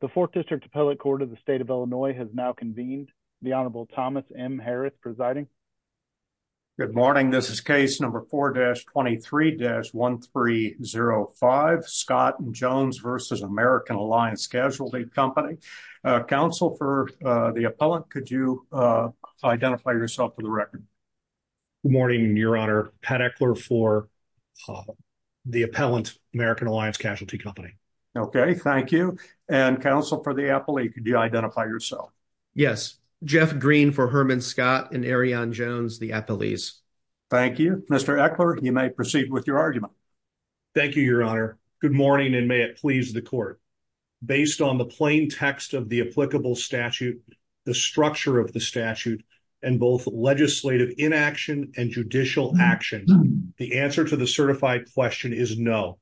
The Fourth District Appellate Court of the State of Illinois has now convened. The Honorable Thomas M. Harris presiding. Good morning. This is case number 4-23-1305, Scott Jones v. American Alliance Casualty Company. Counsel for the appellant, could you identify yourself for the record? Good morning, Your Honor. Pat Eckler for the appellant, American Alliance Casualty Company. Okay, thank you. And counsel for the appellate, could you identify yourself? Yes, Jeff Green for Herman Scott and Arion Jones, the appellees. Thank you. Mr. Eckler, you may proceed with your argument. Thank you, Your Honor. Good morning, and may it please the court. Based on the plain text of the applicable statute, the structure of the statute, and both legislative inaction and judicial action, the answer to the certified question is no.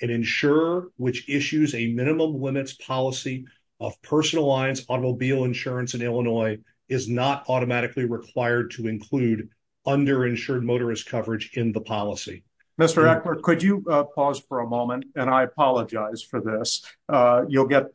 An insurer which issues a minimum limits policy of personal lines automobile insurance in Illinois is not automatically required to include underinsured motorist coverage in the policy. Mr. Eckler, could you pause for a moment? And I apologize for this. You'll get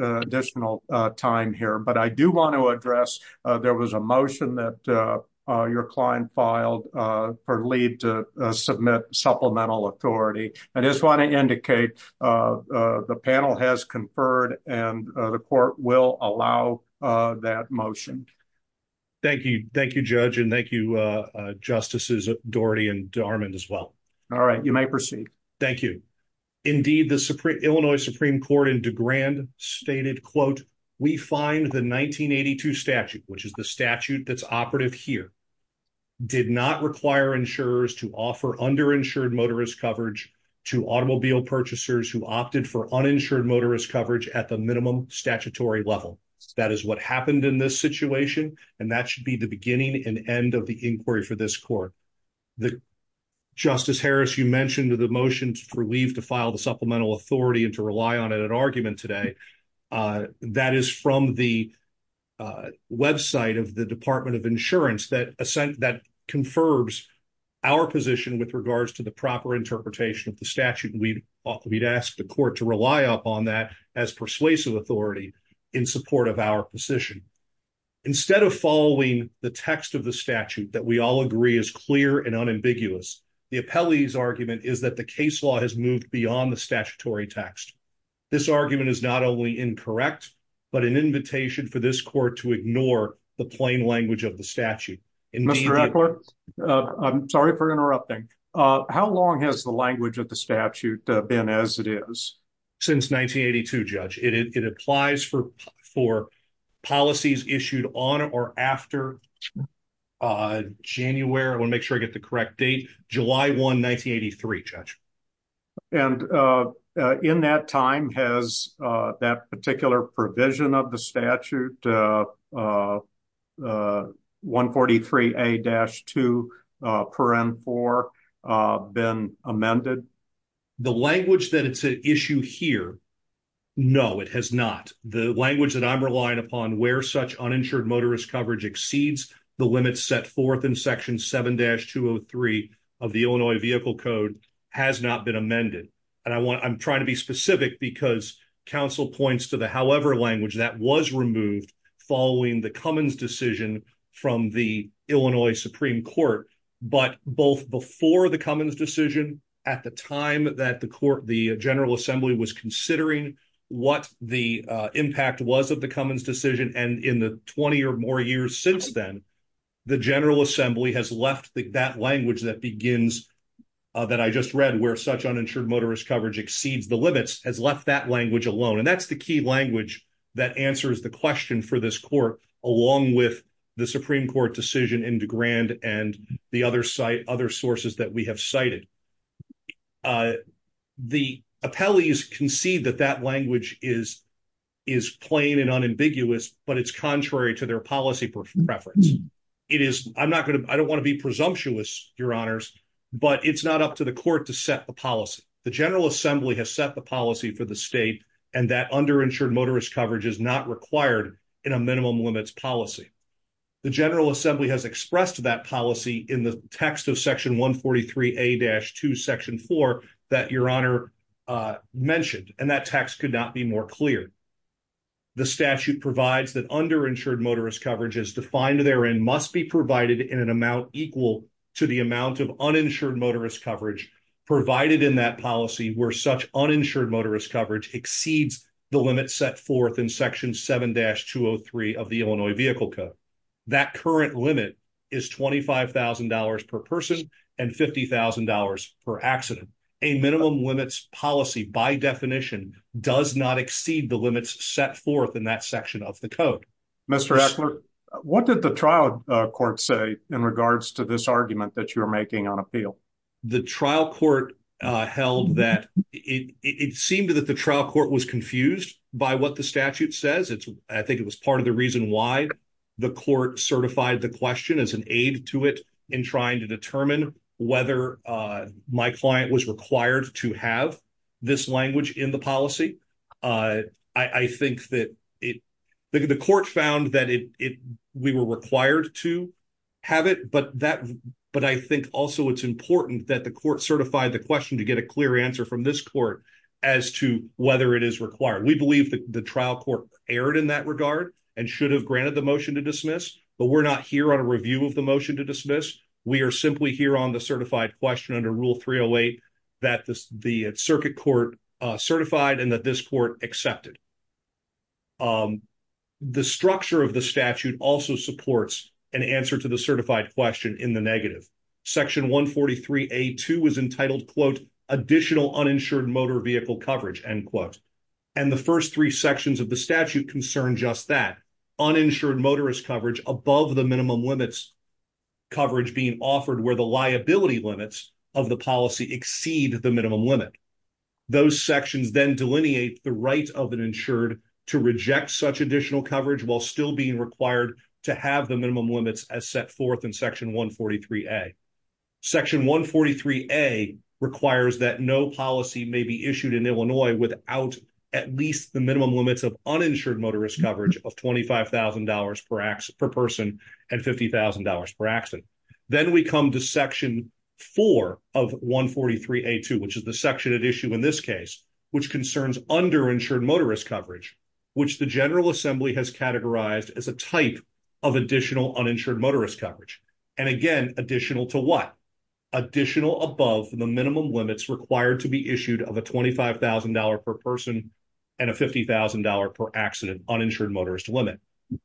additional time here, but I do want to address, there was a motion that your client filed for leave to submit supplemental authority. I just want to indicate the panel has conferred, and the court will allow that motion. Thank you. Thank you, Judge, and thank you, Justices Doherty and Darmond as well. All right, you may proceed. Thank you. Indeed, the Illinois Supreme Court in DeGrande stated, quote, we find the 1982 statute, which is the statute that's operative here, did not require insurers to offer underinsured motorist coverage to automobile purchasers who opted for uninsured motorist coverage at the minimum statutory level. That is what happened in this situation, and that should be the beginning and end of the inquiry for this court. Justice Harris, you mentioned the motion for leave to file the supplemental authority and rely on an argument today. That is from the website of the Department of Insurance that confers our position with regards to the proper interpretation of the statute. We'd ask the court to rely upon that as persuasive authority in support of our position. Instead of following the text of the statute that we all agree is clear and unambiguous, the appellee's argument is that the case law has moved beyond the statutory text. This argument is not only incorrect, but an invitation for this court to ignore the plain language of the statute. I'm sorry for interrupting. How long has the language of the statute been as it is? Since 1982, Judge. It applies for policies issued on or after January. I want to make sure I get the correct date. July 1, 1983, Judge. In that time, has that particular provision of the statute, 143A-2, been amended? The language that it's an issue here, no, it has not. The language that I'm relying upon where such uninsured motorist coverage exceeds limits set forth in Section 7-203 of the Illinois Vehicle Code has not been amended. I'm trying to be specific because counsel points to the however language that was removed following the Cummins decision from the Illinois Supreme Court, but both before the Cummins decision at the time that the General Assembly was considering what the impact was of the Cummins decision and in the 20 or more years since then, the General Assembly has left that language that begins, that I just read, where such uninsured motorist coverage exceeds the limits has left that language alone. And that's the key language that answers the question for this court, along with the Supreme Court decision in DeGrand and the other sources that we have cited. The appellees concede that that language is is plain and unambiguous, but it's contrary to their policy preference. It is, I'm not going to, I don't want to be presumptuous, your honors, but it's not up to the court to set the policy. The General Assembly has set the policy for the state and that underinsured motorist coverage is not required in a minimum limits policy. The General Assembly has expressed that policy in the text of section 143A-2 section 4 that your honor mentioned and that text could not be more clear. The statute provides that underinsured motorist coverage as defined therein must be provided in an amount equal to the amount of uninsured motorist coverage provided in that policy where such uninsured motorist coverage exceeds the $25,000 per person and $50,000 per accident. A minimum limits policy by definition does not exceed the limits set forth in that section of the code. Mr. Eckler, what did the trial court say in regards to this argument that you're making on appeal? The trial court held that it seemed that the trial court was confused by what the statute says. I think it was part of the reason the court certified the question as an aid to it in trying to determine whether my client was required to have this language in the policy. The court found that we were required to have it, but I think also it's important that the court certified the question to get a clear answer from this court as to whether it is required. We believe that the trial court erred in that regard and should have granted the motion to dismiss, but we're not here on a review of the motion to dismiss. We are simply here on the certified question under Rule 308 that the circuit court certified and that this court accepted. The structure of the statute also supports an answer to the certified question in the negative. Section 143A2 was entitled, quote, additional uninsured motor vehicle coverage, end quote. And the first three sections of the statute concern just that, uninsured motorist coverage above the minimum limits coverage being offered where the liability limits of the policy exceed the minimum limit. Those sections then delineate the right of an insured to reject such additional coverage while still being required to have the minimum limits as set forth in Section 143A. Section 143A requires that no policy may be issued in Illinois without at least the minimum limits of uninsured motorist coverage of $25,000 per person and $50,000 per accident. Then we come to Section 4 of 143A2, which is the section at issue in this case, which concerns underinsured motorist coverage, which the General Assembly has categorized as a type of additional uninsured motorist coverage. And again, additional to what? Additional above the minimum limits required to be issued of a $25,000 per person and a $50,000 per accident uninsured motorist limit.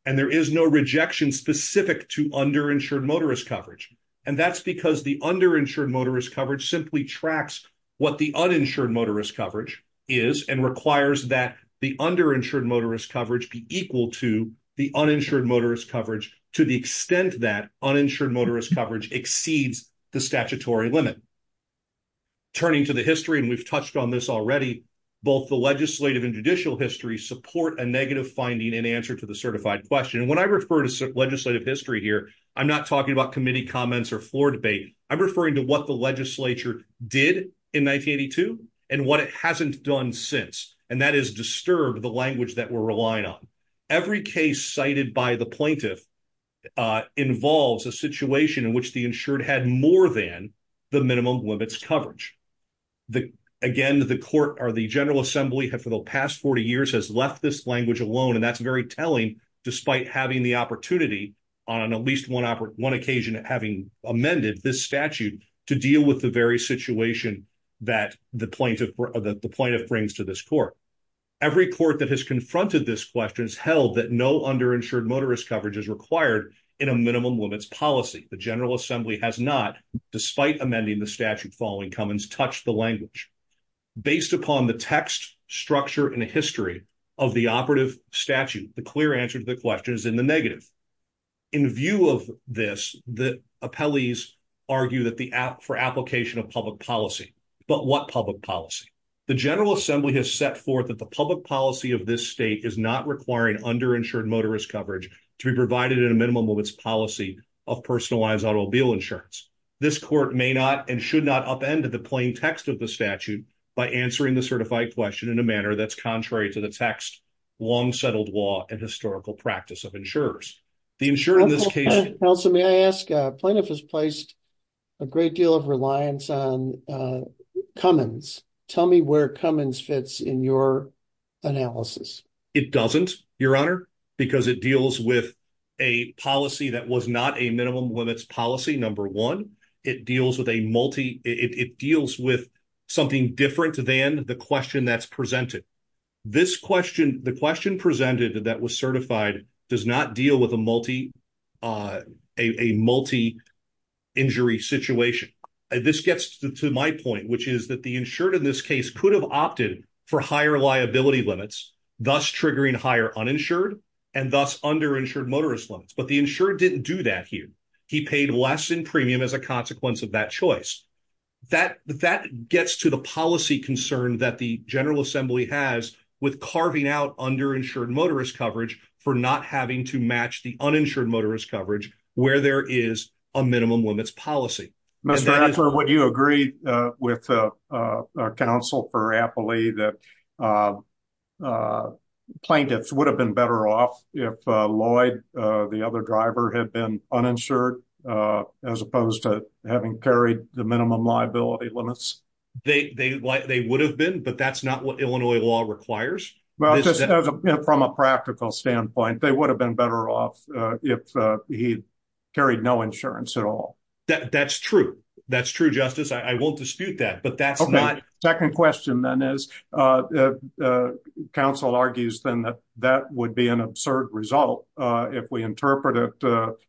And there is no rejection specific to underinsured motorist coverage. And that's because the underinsured motorist coverage simply tracks what the uninsured motorist coverage is and requires that the underinsured motorist coverage be equal to the uninsured motorist coverage to the extent that uninsured motorist coverage exceeds the Turning to the history, and we've touched on this already, both the legislative and judicial history support a negative finding in answer to the certified question. And when I refer to legislative history here, I'm not talking about committee comments or floor debate. I'm referring to what the legislature did in 1982 and what it hasn't done since. And that is disturb the language that we're relying on. Every case cited by the plaintiff involves a situation in which the insured had more than the minimum limits coverage. Again, the court or the General Assembly for the past 40 years has left this language alone. And that's very telling, despite having the opportunity on at least one occasion, having amended this statute to deal with the very situation that the plaintiff brings to this court. Every court that has confronted this question has held that no underinsured motorist coverage is required in a minimum limits policy. The General Assembly, despite amending the statute following Cummins, touched the language. Based upon the text, structure, and history of the operative statute, the clear answer to the question is in the negative. In view of this, the appellees argue that for application of public policy. But what public policy? The General Assembly has set forth that the public policy of this state is not requiring underinsured motorist coverage to be provided in a minimum limits policy of personalized automobile insurance. This court may not and should not upend the plain text of the statute by answering the certified question in a manner that's contrary to the text, long-settled law, and historical practice of insurers. The insurer in this case. Also, may I ask, plaintiff has placed a great deal of reliance on Cummins. Tell me where Cummins fits in your analysis. It doesn't, Your Honor, because it deals with a policy that was not a minimum limits policy, number one. It deals with a multi, it deals with something different than the question that's presented. This question, the question presented that was certified does not deal with a multi, a multi-injury situation. This gets to my point, which is that the insured in this case could have opted for higher liability limits, thus triggering higher uninsured and thus underinsured motorist limits. But the insured didn't do that here. He paid less in premium as a consequence of that choice. That, that gets to the policy concern that the General Assembly has with carving out underinsured motorist coverage for not having to match the uninsured motorist coverage where there is a minimum limits policy. Mr. Axler, would you agree with counsel for Appley that plaintiffs would have been better off if Lloyd, the other driver, had been uninsured as opposed to having carried the minimum liability limits? They would have been, but that's not what Illinois law requires. Well, just as a, from a practical standpoint, they would have been better off if he carried no insurance at all. That's true. That's true, Justice. I won't dispute that, but that's not... Okay, second question then is, counsel argues then that that would be an absurd result if we interpret it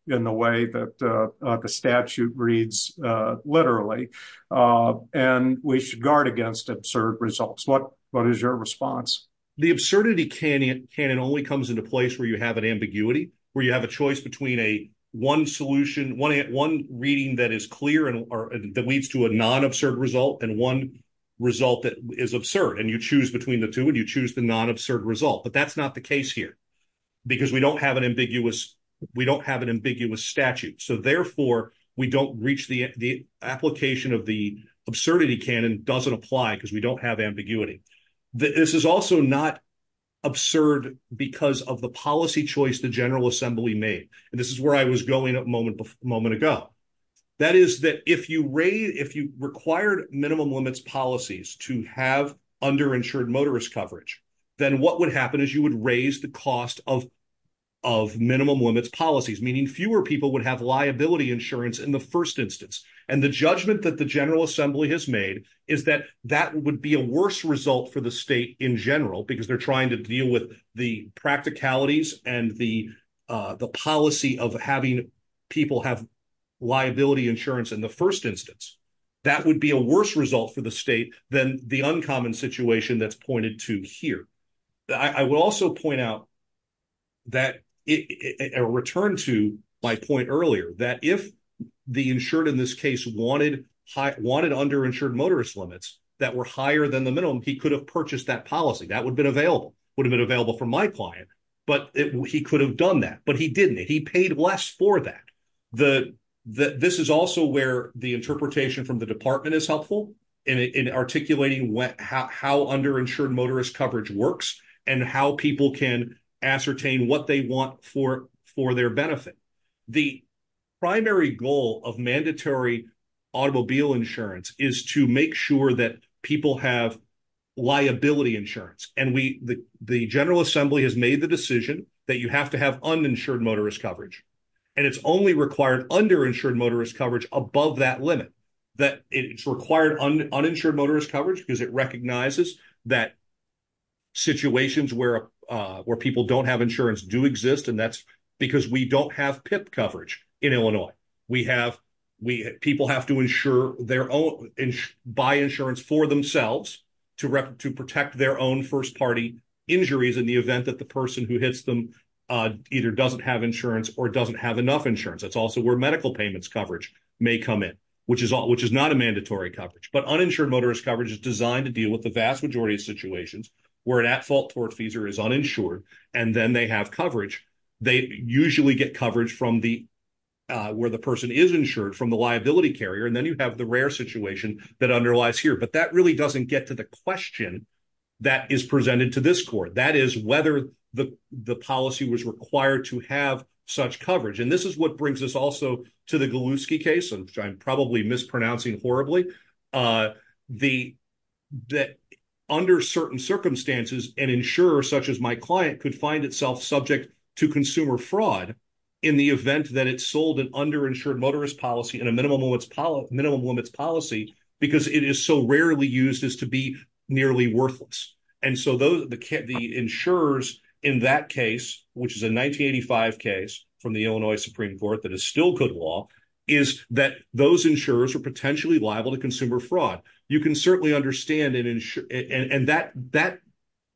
in the way that the statute reads literally, and we should guard against absurd results. What is your response? The absurdity canon only comes into place where you have an ambiguity, where you have a choice between a one solution, one reading that is clear that leads to a non-absurd result, and one result that is absurd, and you choose between the two and you choose the non-absurd result, but that's not the case here because we don't have an ambiguous statute. So, therefore, we don't reach the application of the absurdity canon doesn't apply because we don't have ambiguity. This is also not absurd because of the policy choice the General Assembly made, and this is where I was going a moment ago. That is that if you raise, if you required minimum limits policies to have underinsured motorist coverage, then what would happen is you would raise the cost of minimum limits policies, meaning fewer people would have liability insurance in the first instance, and the judgment that the General Assembly has made is that that would be a worse result for the state in general because they're practicalities and the policy of having people have liability insurance in the first instance. That would be a worse result for the state than the uncommon situation that's pointed to here. I would also point out that, return to my point earlier, that if the insured in this case wanted underinsured motorist limits that were higher than the minimum, he could have purchased that would have been available for my client, but he could have done that, but he didn't. He paid less for that. This is also where the interpretation from the department is helpful in articulating how underinsured motorist coverage works and how people can ascertain what they want for their benefit. The primary goal of mandatory automobile insurance is to make sure that people have liability insurance. The General Assembly has made the decision that you have to have uninsured motorist coverage, and it's only required underinsured motorist coverage above that limit. It's required uninsured motorist coverage because it recognizes that situations where people don't have insurance do exist, and that's because we don't have PIP coverage in to protect their own first-party injuries in the event that the person who hits them either doesn't have insurance or doesn't have enough insurance. That's also where medical payments coverage may come in, which is not a mandatory coverage, but uninsured motorist coverage is designed to deal with the vast majority of situations where an at-fault tort feeser is uninsured, and then they have coverage. They usually get coverage where the person is insured from the liability carrier, and then you have the rare situation that underlies here, but that really doesn't get to the question that is presented to this court. That is whether the policy was required to have such coverage, and this is what brings us also to the Galuski case, which I'm probably mispronouncing horribly. Under certain circumstances, an insurer such as my client could find itself subject to consumer fraud in the event that it sold an underinsured motorist policy in a minimum limits policy because it is so rarely used as to be nearly worthless, and so the insurers in that case, which is a 1985 case from the Illinois Supreme Court that is still good law, is that those insurers are potentially liable to consumer fraud. You can certainly understand it, and that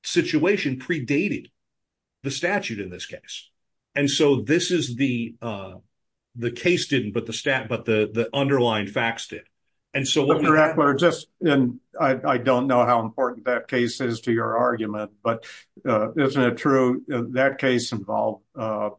situation predated the statute in this case, and so the case didn't, but the underlying facts did. I don't know how important that case is to your argument, but isn't it true that case involved an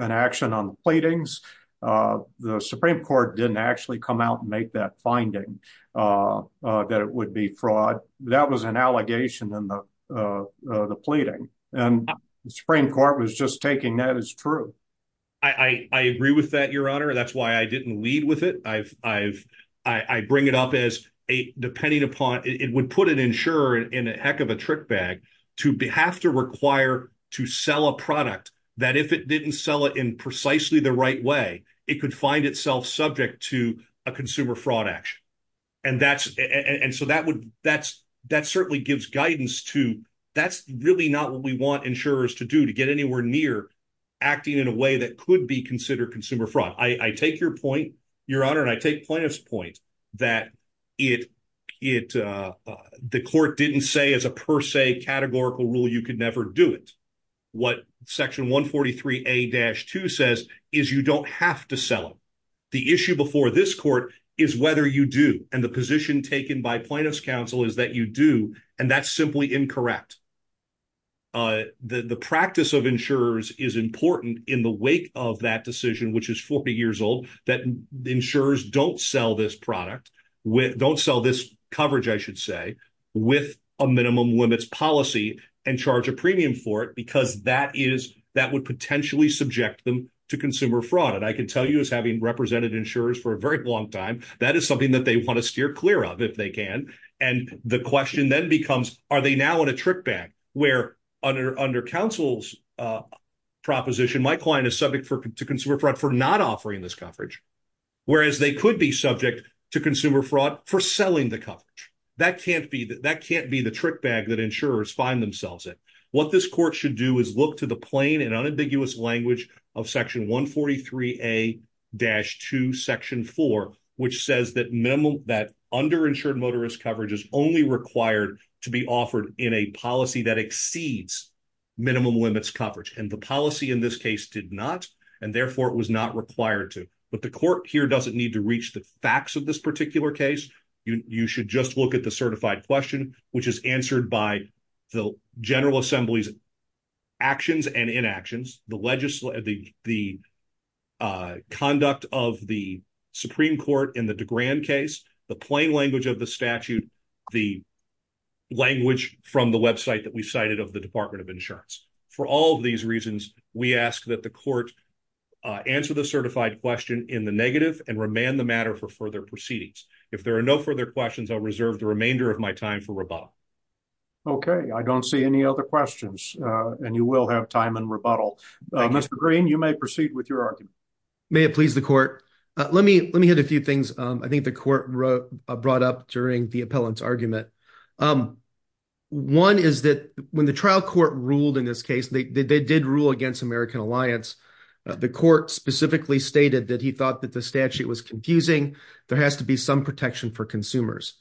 action on the pleadings? The Supreme Court didn't actually come out and make that finding that it would be fraud. That was an allegation in the pleading, and the Supreme Court was just taking that as true. I agree with that, Your Honor. That's why I didn't lead with it. I bring it up as depending upon, it would put an insurer in a heck of a trick bag to have to require to sell a product that if it didn't sell it in precisely the right way, it could find itself subject to a consumer fraud action, and so that certainly gives guidance to that's really not what we want insurers to do to get anywhere near acting in a way that could be considered consumer fraud. I take your point, Your Honor, and I take plaintiff's point that the court didn't say as a per se categorical rule you could never do it. What Section 143A-2 says is you don't have to sell it. The issue before this court is whether you do, and the position taken by plaintiff's counsel is that you do, and that's simply incorrect. The practice of insurers is important in the wake of that decision, which is 40 years old, that insurers don't sell this product, don't sell this coverage, I should say, with a minimum limits policy and charge a premium for it because that would potentially subject them to consumer fraud, and I can tell you as having represented insurers for a very long time that is something that they want to steer clear of if they can, and the question then becomes are they now in a trick bag where under counsel's proposition my client is subject to consumer fraud for not offering this coverage, whereas they could be subject to consumer fraud for selling the coverage. That can't be the trick bag that insurers find themselves in. What this court should do is look to the plain and unambiguous language of Section 143A-2 Section 4, which says that underinsured motorist coverage is only required to be offered in a policy that exceeds minimum limits coverage, and the policy in this case did not, and therefore it was not required to, but the court here doesn't need to reach the facts of this particular case. You should just look at the certified question, which is answered by the General Assembly's actions and inactions, the conduct of the Supreme Court in the DeGrand case, the plain language of the statute, the language from the website that we cited of the Department of Insurance. For all of these reasons, we ask that the court answer the certified question in negative and remand the matter for further proceedings. If there are no further questions, I'll reserve the remainder of my time for rebuttal. Okay, I don't see any other questions, and you will have time in rebuttal. Mr. Green, you may proceed with your argument. May it please the court. Let me hit a few things I think the court brought up during the appellant's argument. One is that when the trial court ruled in this case, they did rule against American Alliance. The court specifically stated that he thought that the statute was confusing. There has to be some protection for consumers.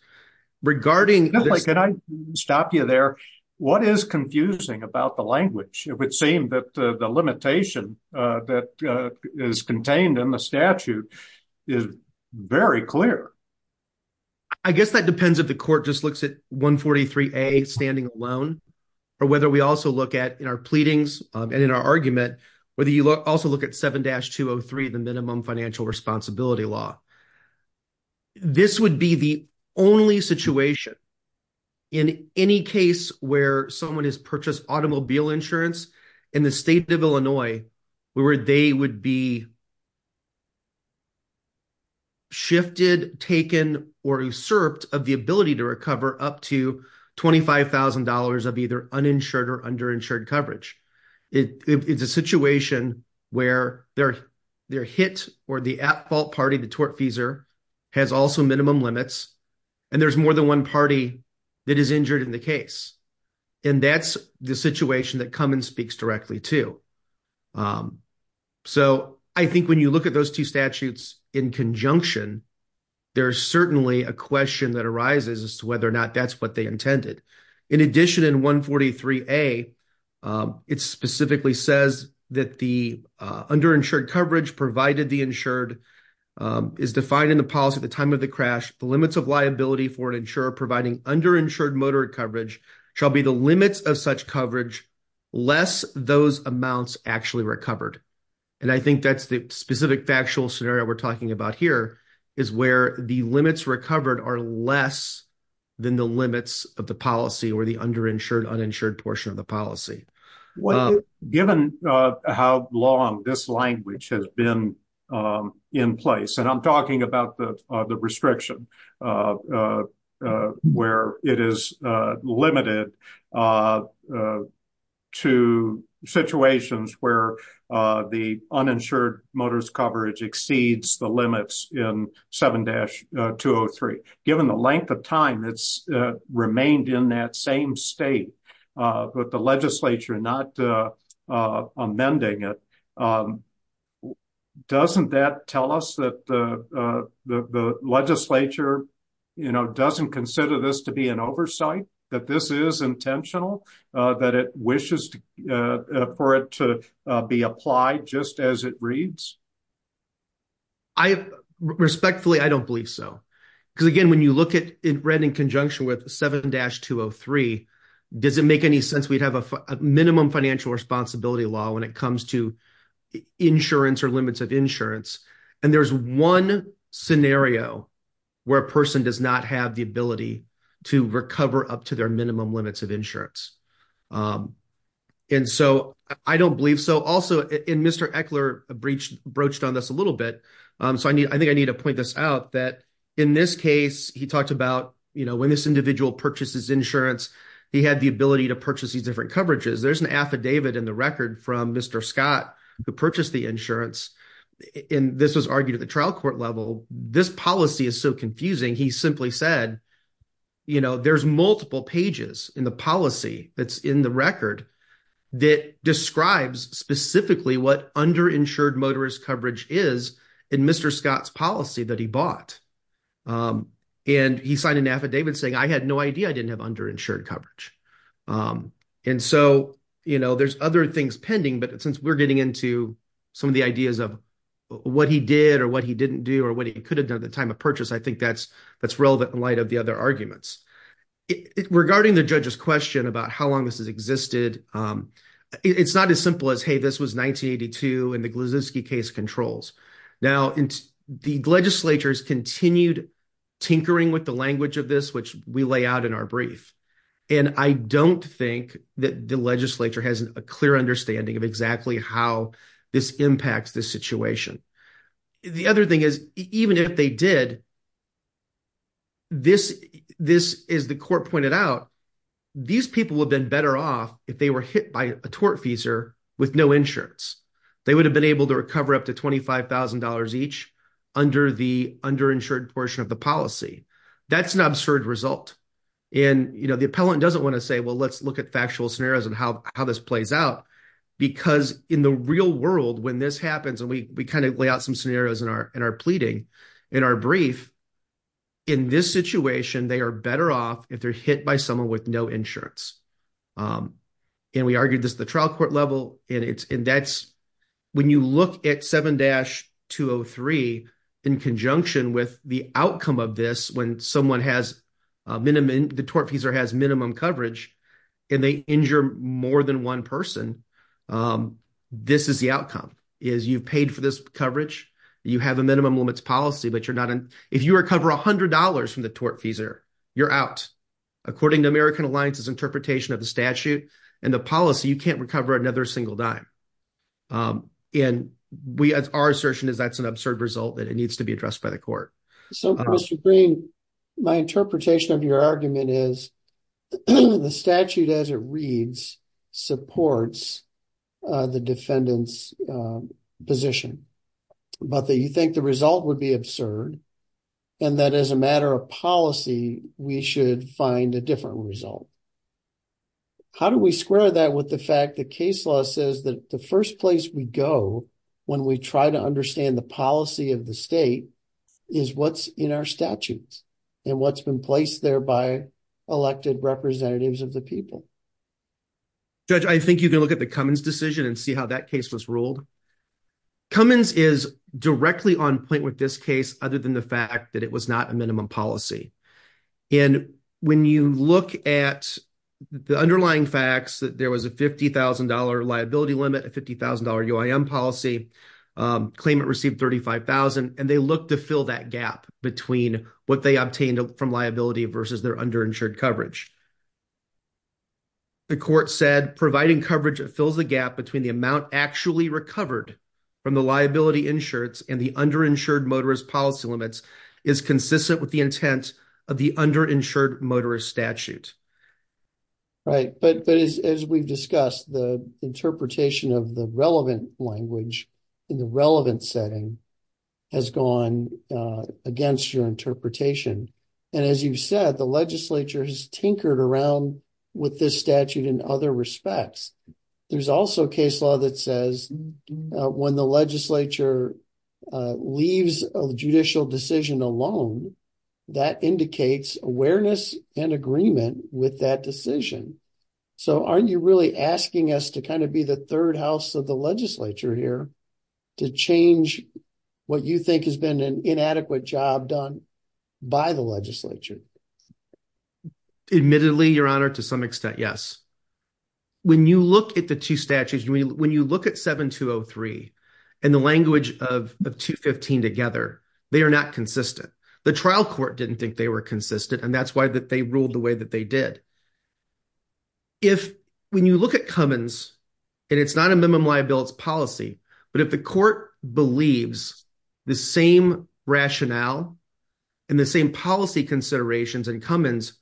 Can I stop you there? What is confusing about the language? It would seem that the limitation that is contained in the statute is very clear. I guess that depends if the court just looks at 143A, standing alone, or whether we also look at in our pleadings and in our argument, whether you also look at 7-203, the minimum financial responsibility law. This would be the only situation in any case where someone has purchased automobile insurance in the state of Illinois where they would be shifted, taken, or usurped of the ability to recover up to $25,000 of either uninsured or underinsured coverage. It's a situation where their hit or the at-fault party, the tortfeasor, has also minimum limits, and there's more than one party that is injured in the case. That's the situation that Cummins speaks directly to. So, I think when you look at those two statutes in conjunction, there's certainly a question that arises as to whether or not that's what they intended. In addition, in 143A, it specifically says that the underinsured coverage provided the insured is defined in the policy at the time of the crash. The limits of liability for an insurer providing underinsured motor coverage shall be limits of such coverage less those amounts actually recovered. I think that's the specific factual scenario we're talking about here, is where the limits recovered are less than the limits of the policy or the underinsured, uninsured portion of the policy. Given how long this language has been in place, and I'm talking about the restriction of where it is limited to situations where the uninsured motor's coverage exceeds the limits in 7-203, given the length of time it's remained in that same state, but the legislature not amending it, doesn't that tell us that the legislature doesn't consider this to be an oversight, that this is intentional, that it wishes for it to be applied just as it reads? Respectfully, I don't believe so. Because again, when you look at it in conjunction with 7-203, does it make any sense we'd have a minimum financial responsibility law when it comes to insurance or limits of insurance? And there's one scenario where a person does not have the ability to recover up to their minimum limits of insurance. And so, I don't believe so. Also, and Mr. Eckler broached on this a little bit, so I think I need to point this out, that in this case, he talked about when this individual purchases insurance, he had the ability to purchase these different coverages. There's an affidavit in the record from Mr. Scott who purchased the insurance, and this was argued at the trial court level. This policy is so confusing, he simply said, there's multiple pages in the policy that's in the record that describes specifically what underinsured motorist coverage is in Mr. Scott's policy that he bought. And he signed an affidavit saying, I had no idea I didn't have underinsured coverage. And so, there's other things pending, but since we're getting into some of the ideas of what he did or what he didn't do or what he could have done at the time of purchase, I think that's relevant in light of the other arguments. Regarding the judge's question about how long this has existed, it's not as simple as, hey, this was 1982 and the Gliziski case controls. Now, the legislatures continued tinkering with the language of this, which we lay out in our brief. And I don't think that the legislature has a clear understanding of exactly how this impacts this situation. The other thing is, even if they did, this, as the court pointed out, these people would have been better off if they were hit by a tortfeasor with no insurance. They would have been able to recover up to $25,000 each under the underinsured portion of the policy. That's an absurd result. And the appellant doesn't want to say, well, let's look at factual scenarios and how this plays out, because in the real world, when this happens, and we kind of lay out some scenarios in our pleading in our brief, in this situation, they are better off if they're hit by someone with no insurance. And we argued this at the trial court level. And when you look at 7-203 in conjunction with the outcome of this, when the tortfeasor has minimum coverage and they injure more than one person, this is the outcome, is you've paid for this coverage. You have a minimum limits policy, but if you recover $100 from the tortfeasor, you're out. According to American Alliance's policy, you can't recover another single dime. And our assertion is that's an absurd result that it needs to be addressed by the court. So, Mr. Green, my interpretation of your argument is the statute as it reads supports the defendant's position, but that you think the result would be the case law says that the first place we go when we try to understand the policy of the state is what's in our statutes and what's been placed there by elected representatives of the people. Judge, I think you can look at the Cummins decision and see how that case was ruled. Cummins is directly on point with this case, other than the fact that it was not a minimum policy. And when you look at the underlying facts that there was a $50,000 liability limit, a $50,000 UIM policy, claimant received $35,000, and they look to fill that gap between what they obtained from liability versus their underinsured coverage. The court said providing coverage that fills the gap between the amount actually recovered from the liability insurance and the underinsured motorist policy limits is consistent with the intent of the underinsured motorist statute. Right. But as we've discussed, the interpretation of the relevant language in the relevant setting has gone against your interpretation. And as you've said, the legislature has tinkered around with this statute in other respects. There's also case that says when the legislature leaves a judicial decision alone, that indicates awareness and agreement with that decision. So aren't you really asking us to kind of be the third house of the legislature here to change what you think has been an inadequate job done by the legislature? Admittedly, Your Honor, to some extent, yes. When you look at the two statutes, when you look at 7203 and the language of 215 together, they are not consistent. The trial court didn't think they were consistent, and that's why they ruled the way that they did. If when you look at Cummins, and it's not a minimum liability policy, but if the court believes the same rationale and the same policy considerations in Cummins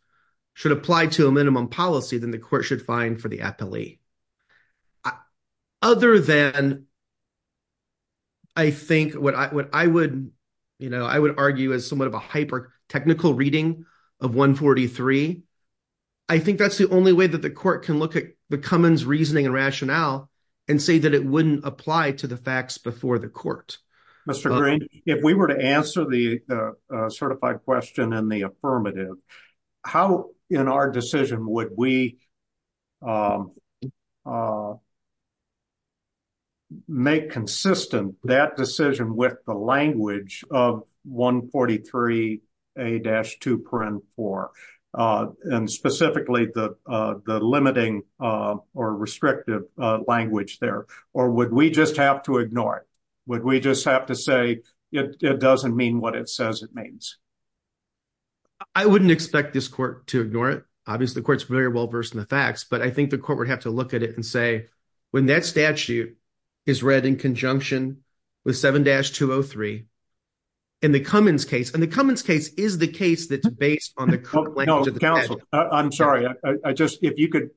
should apply to a minimum policy, then the court should find for the appellee. Other than I think what I would, you know, I would argue as somewhat of a hyper technical reading of 143, I think that's the only way that the court can look at the Cummins reasoning and rationale and say that it wouldn't apply to the facts before the court. Mr. Green, if we were to answer the certified question in the affirmative, how in our decision would we make consistent that decision with the language of 143A-2.4 and specifically the limiting or it doesn't mean what it says it means? I wouldn't expect this court to ignore it. Obviously, the court's very well versed in the facts, but I think the court would have to look at it and say when that statute is read in conjunction with 7-203 in the Cummins case, and the Cummins case is the case that's based on the current language of the statute. I'm sorry, if you could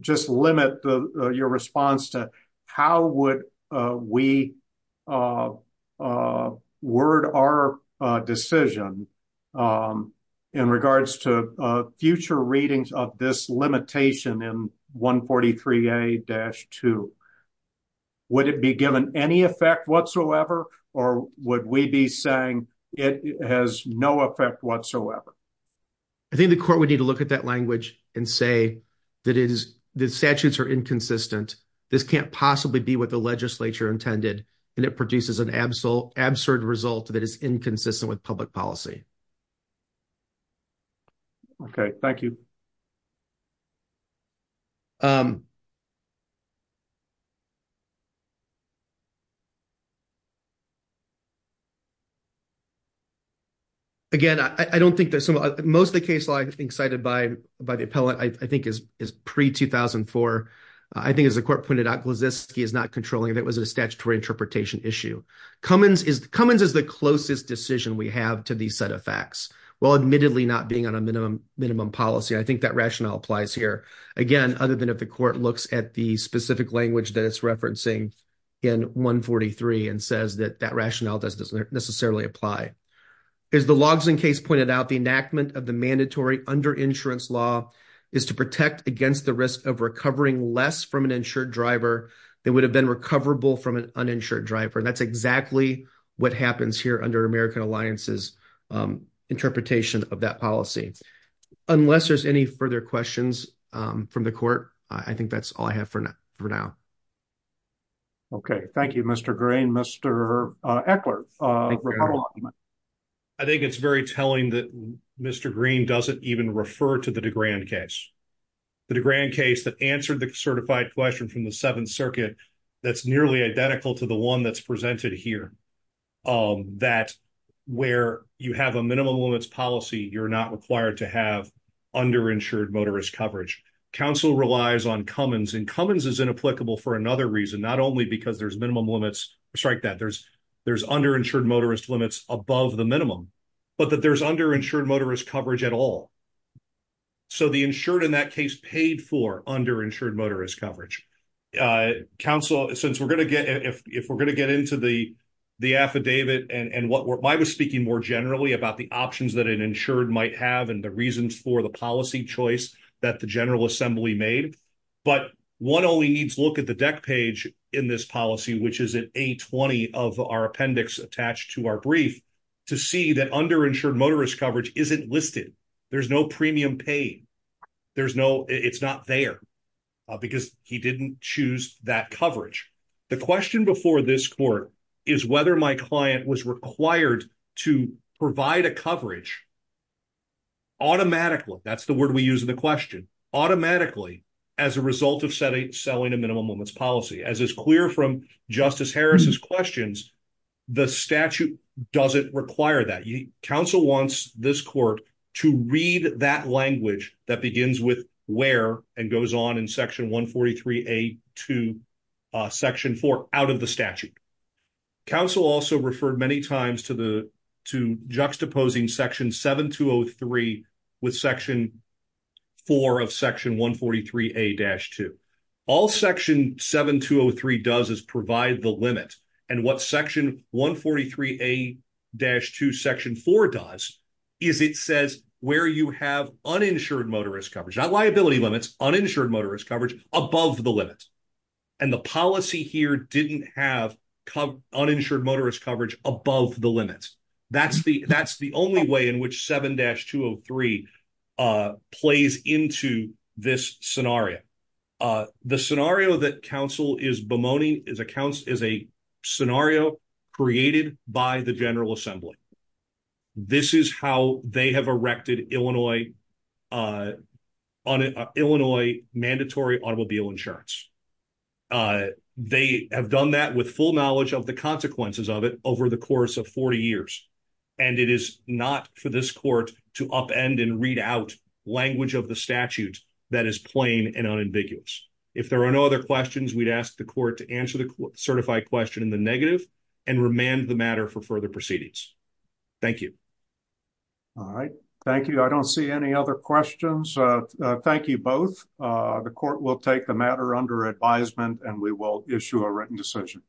just limit your response to how would we word our decision in regards to future readings of this limitation in 143A-2. Would it be given any effect whatsoever or would we be saying it has no effect whatsoever? I think the court would need to look at that language and say that the statutes are inconsistent, this can't possibly be what the legislature intended, and it produces an absurd result that is inconsistent with public policy. Okay, thank you. Again, I don't think there's some, most of the case law I think cited by the appellate I think is pre-2004. I think as the court pointed out, Glaziski is not controlling if it was a statutory interpretation issue. Cummins is the closest decision we have to these set of facts, while admittedly not being on a minimum policy. I think that rationale applies here. Again, other than if the court looks at the specific language that it's referencing in 143 and says that that rationale doesn't necessarily apply. As the Logsdon case pointed out, the enactment of the mandatory under-insurance law is to protect against the risk of recovering less from an insured driver than would have been recoverable from an uninsured driver. That's exactly what happens here under American Alliance's interpretation of that policy. Unless there's any further questions from the court, I think that's all I have for now. Okay, thank you, Mr. Green. Mr. Eckler. I think it's very telling that Mr. Green doesn't even refer to the DeGrand case. The DeGrand case that answered the certified question from the Seventh Circuit that's nearly identical to the one that's presented here, that where you have a minimum limits policy, you're not required to have under-insured motorist coverage. Council relies on Cummins, and Cummins is inapplicable for another reason, not only because there's under-insured motorist limits above the minimum, but that there's under-insured motorist coverage at all. The insured in that case paid for under-insured motorist coverage. Council, if we're going to get into the affidavit and why I was speaking more generally about the options that an insured might have and the reasons for the policy choice that the General Assembly made, but one only needs to look at the deck page in this policy, which is in A20 of our appendix attached to our brief, to see that under-insured motorist coverage isn't listed. There's no premium paid. It's not there because he didn't choose that coverage. The question before this court is whether my client was required to provide a coverage automatically, that's the word we use in the question, automatically as a result of selling a minimum limits policy. As is clear from Justice Harris's questions, the statute doesn't require that. Council wants this court to read that language that begins with where and goes on in Section 143A to Section 4 out of the statute. Council also referred many times to juxtaposing Section 7203 with Section 4 of Section 143A-2. All Section 7203 does is provide the limit. And what Section 143A-2 Section 4 does is it says where you have uninsured motorist coverage, not liability limits, uninsured motorist coverage above the limit. And the policy here didn't have uninsured motorist coverage above the limit. That's the only way in which 7-203 plays into this scenario. The scenario that Council is bemoaning is a scenario created by the General Assembly. This is how they have erected Illinois mandatory automobile insurance. They have done that with full knowledge of the consequences of it over the course of 40 years. That's the only way in which they can read out language of the statute that is plain and unambiguous. If there are no other questions, we'd ask the court to answer the certified question in the negative and remand the matter for further proceedings. Thank you. All right. Thank you. I don't see any other questions. Thank you both. The court will take the matter under advisement and we will issue a written decision.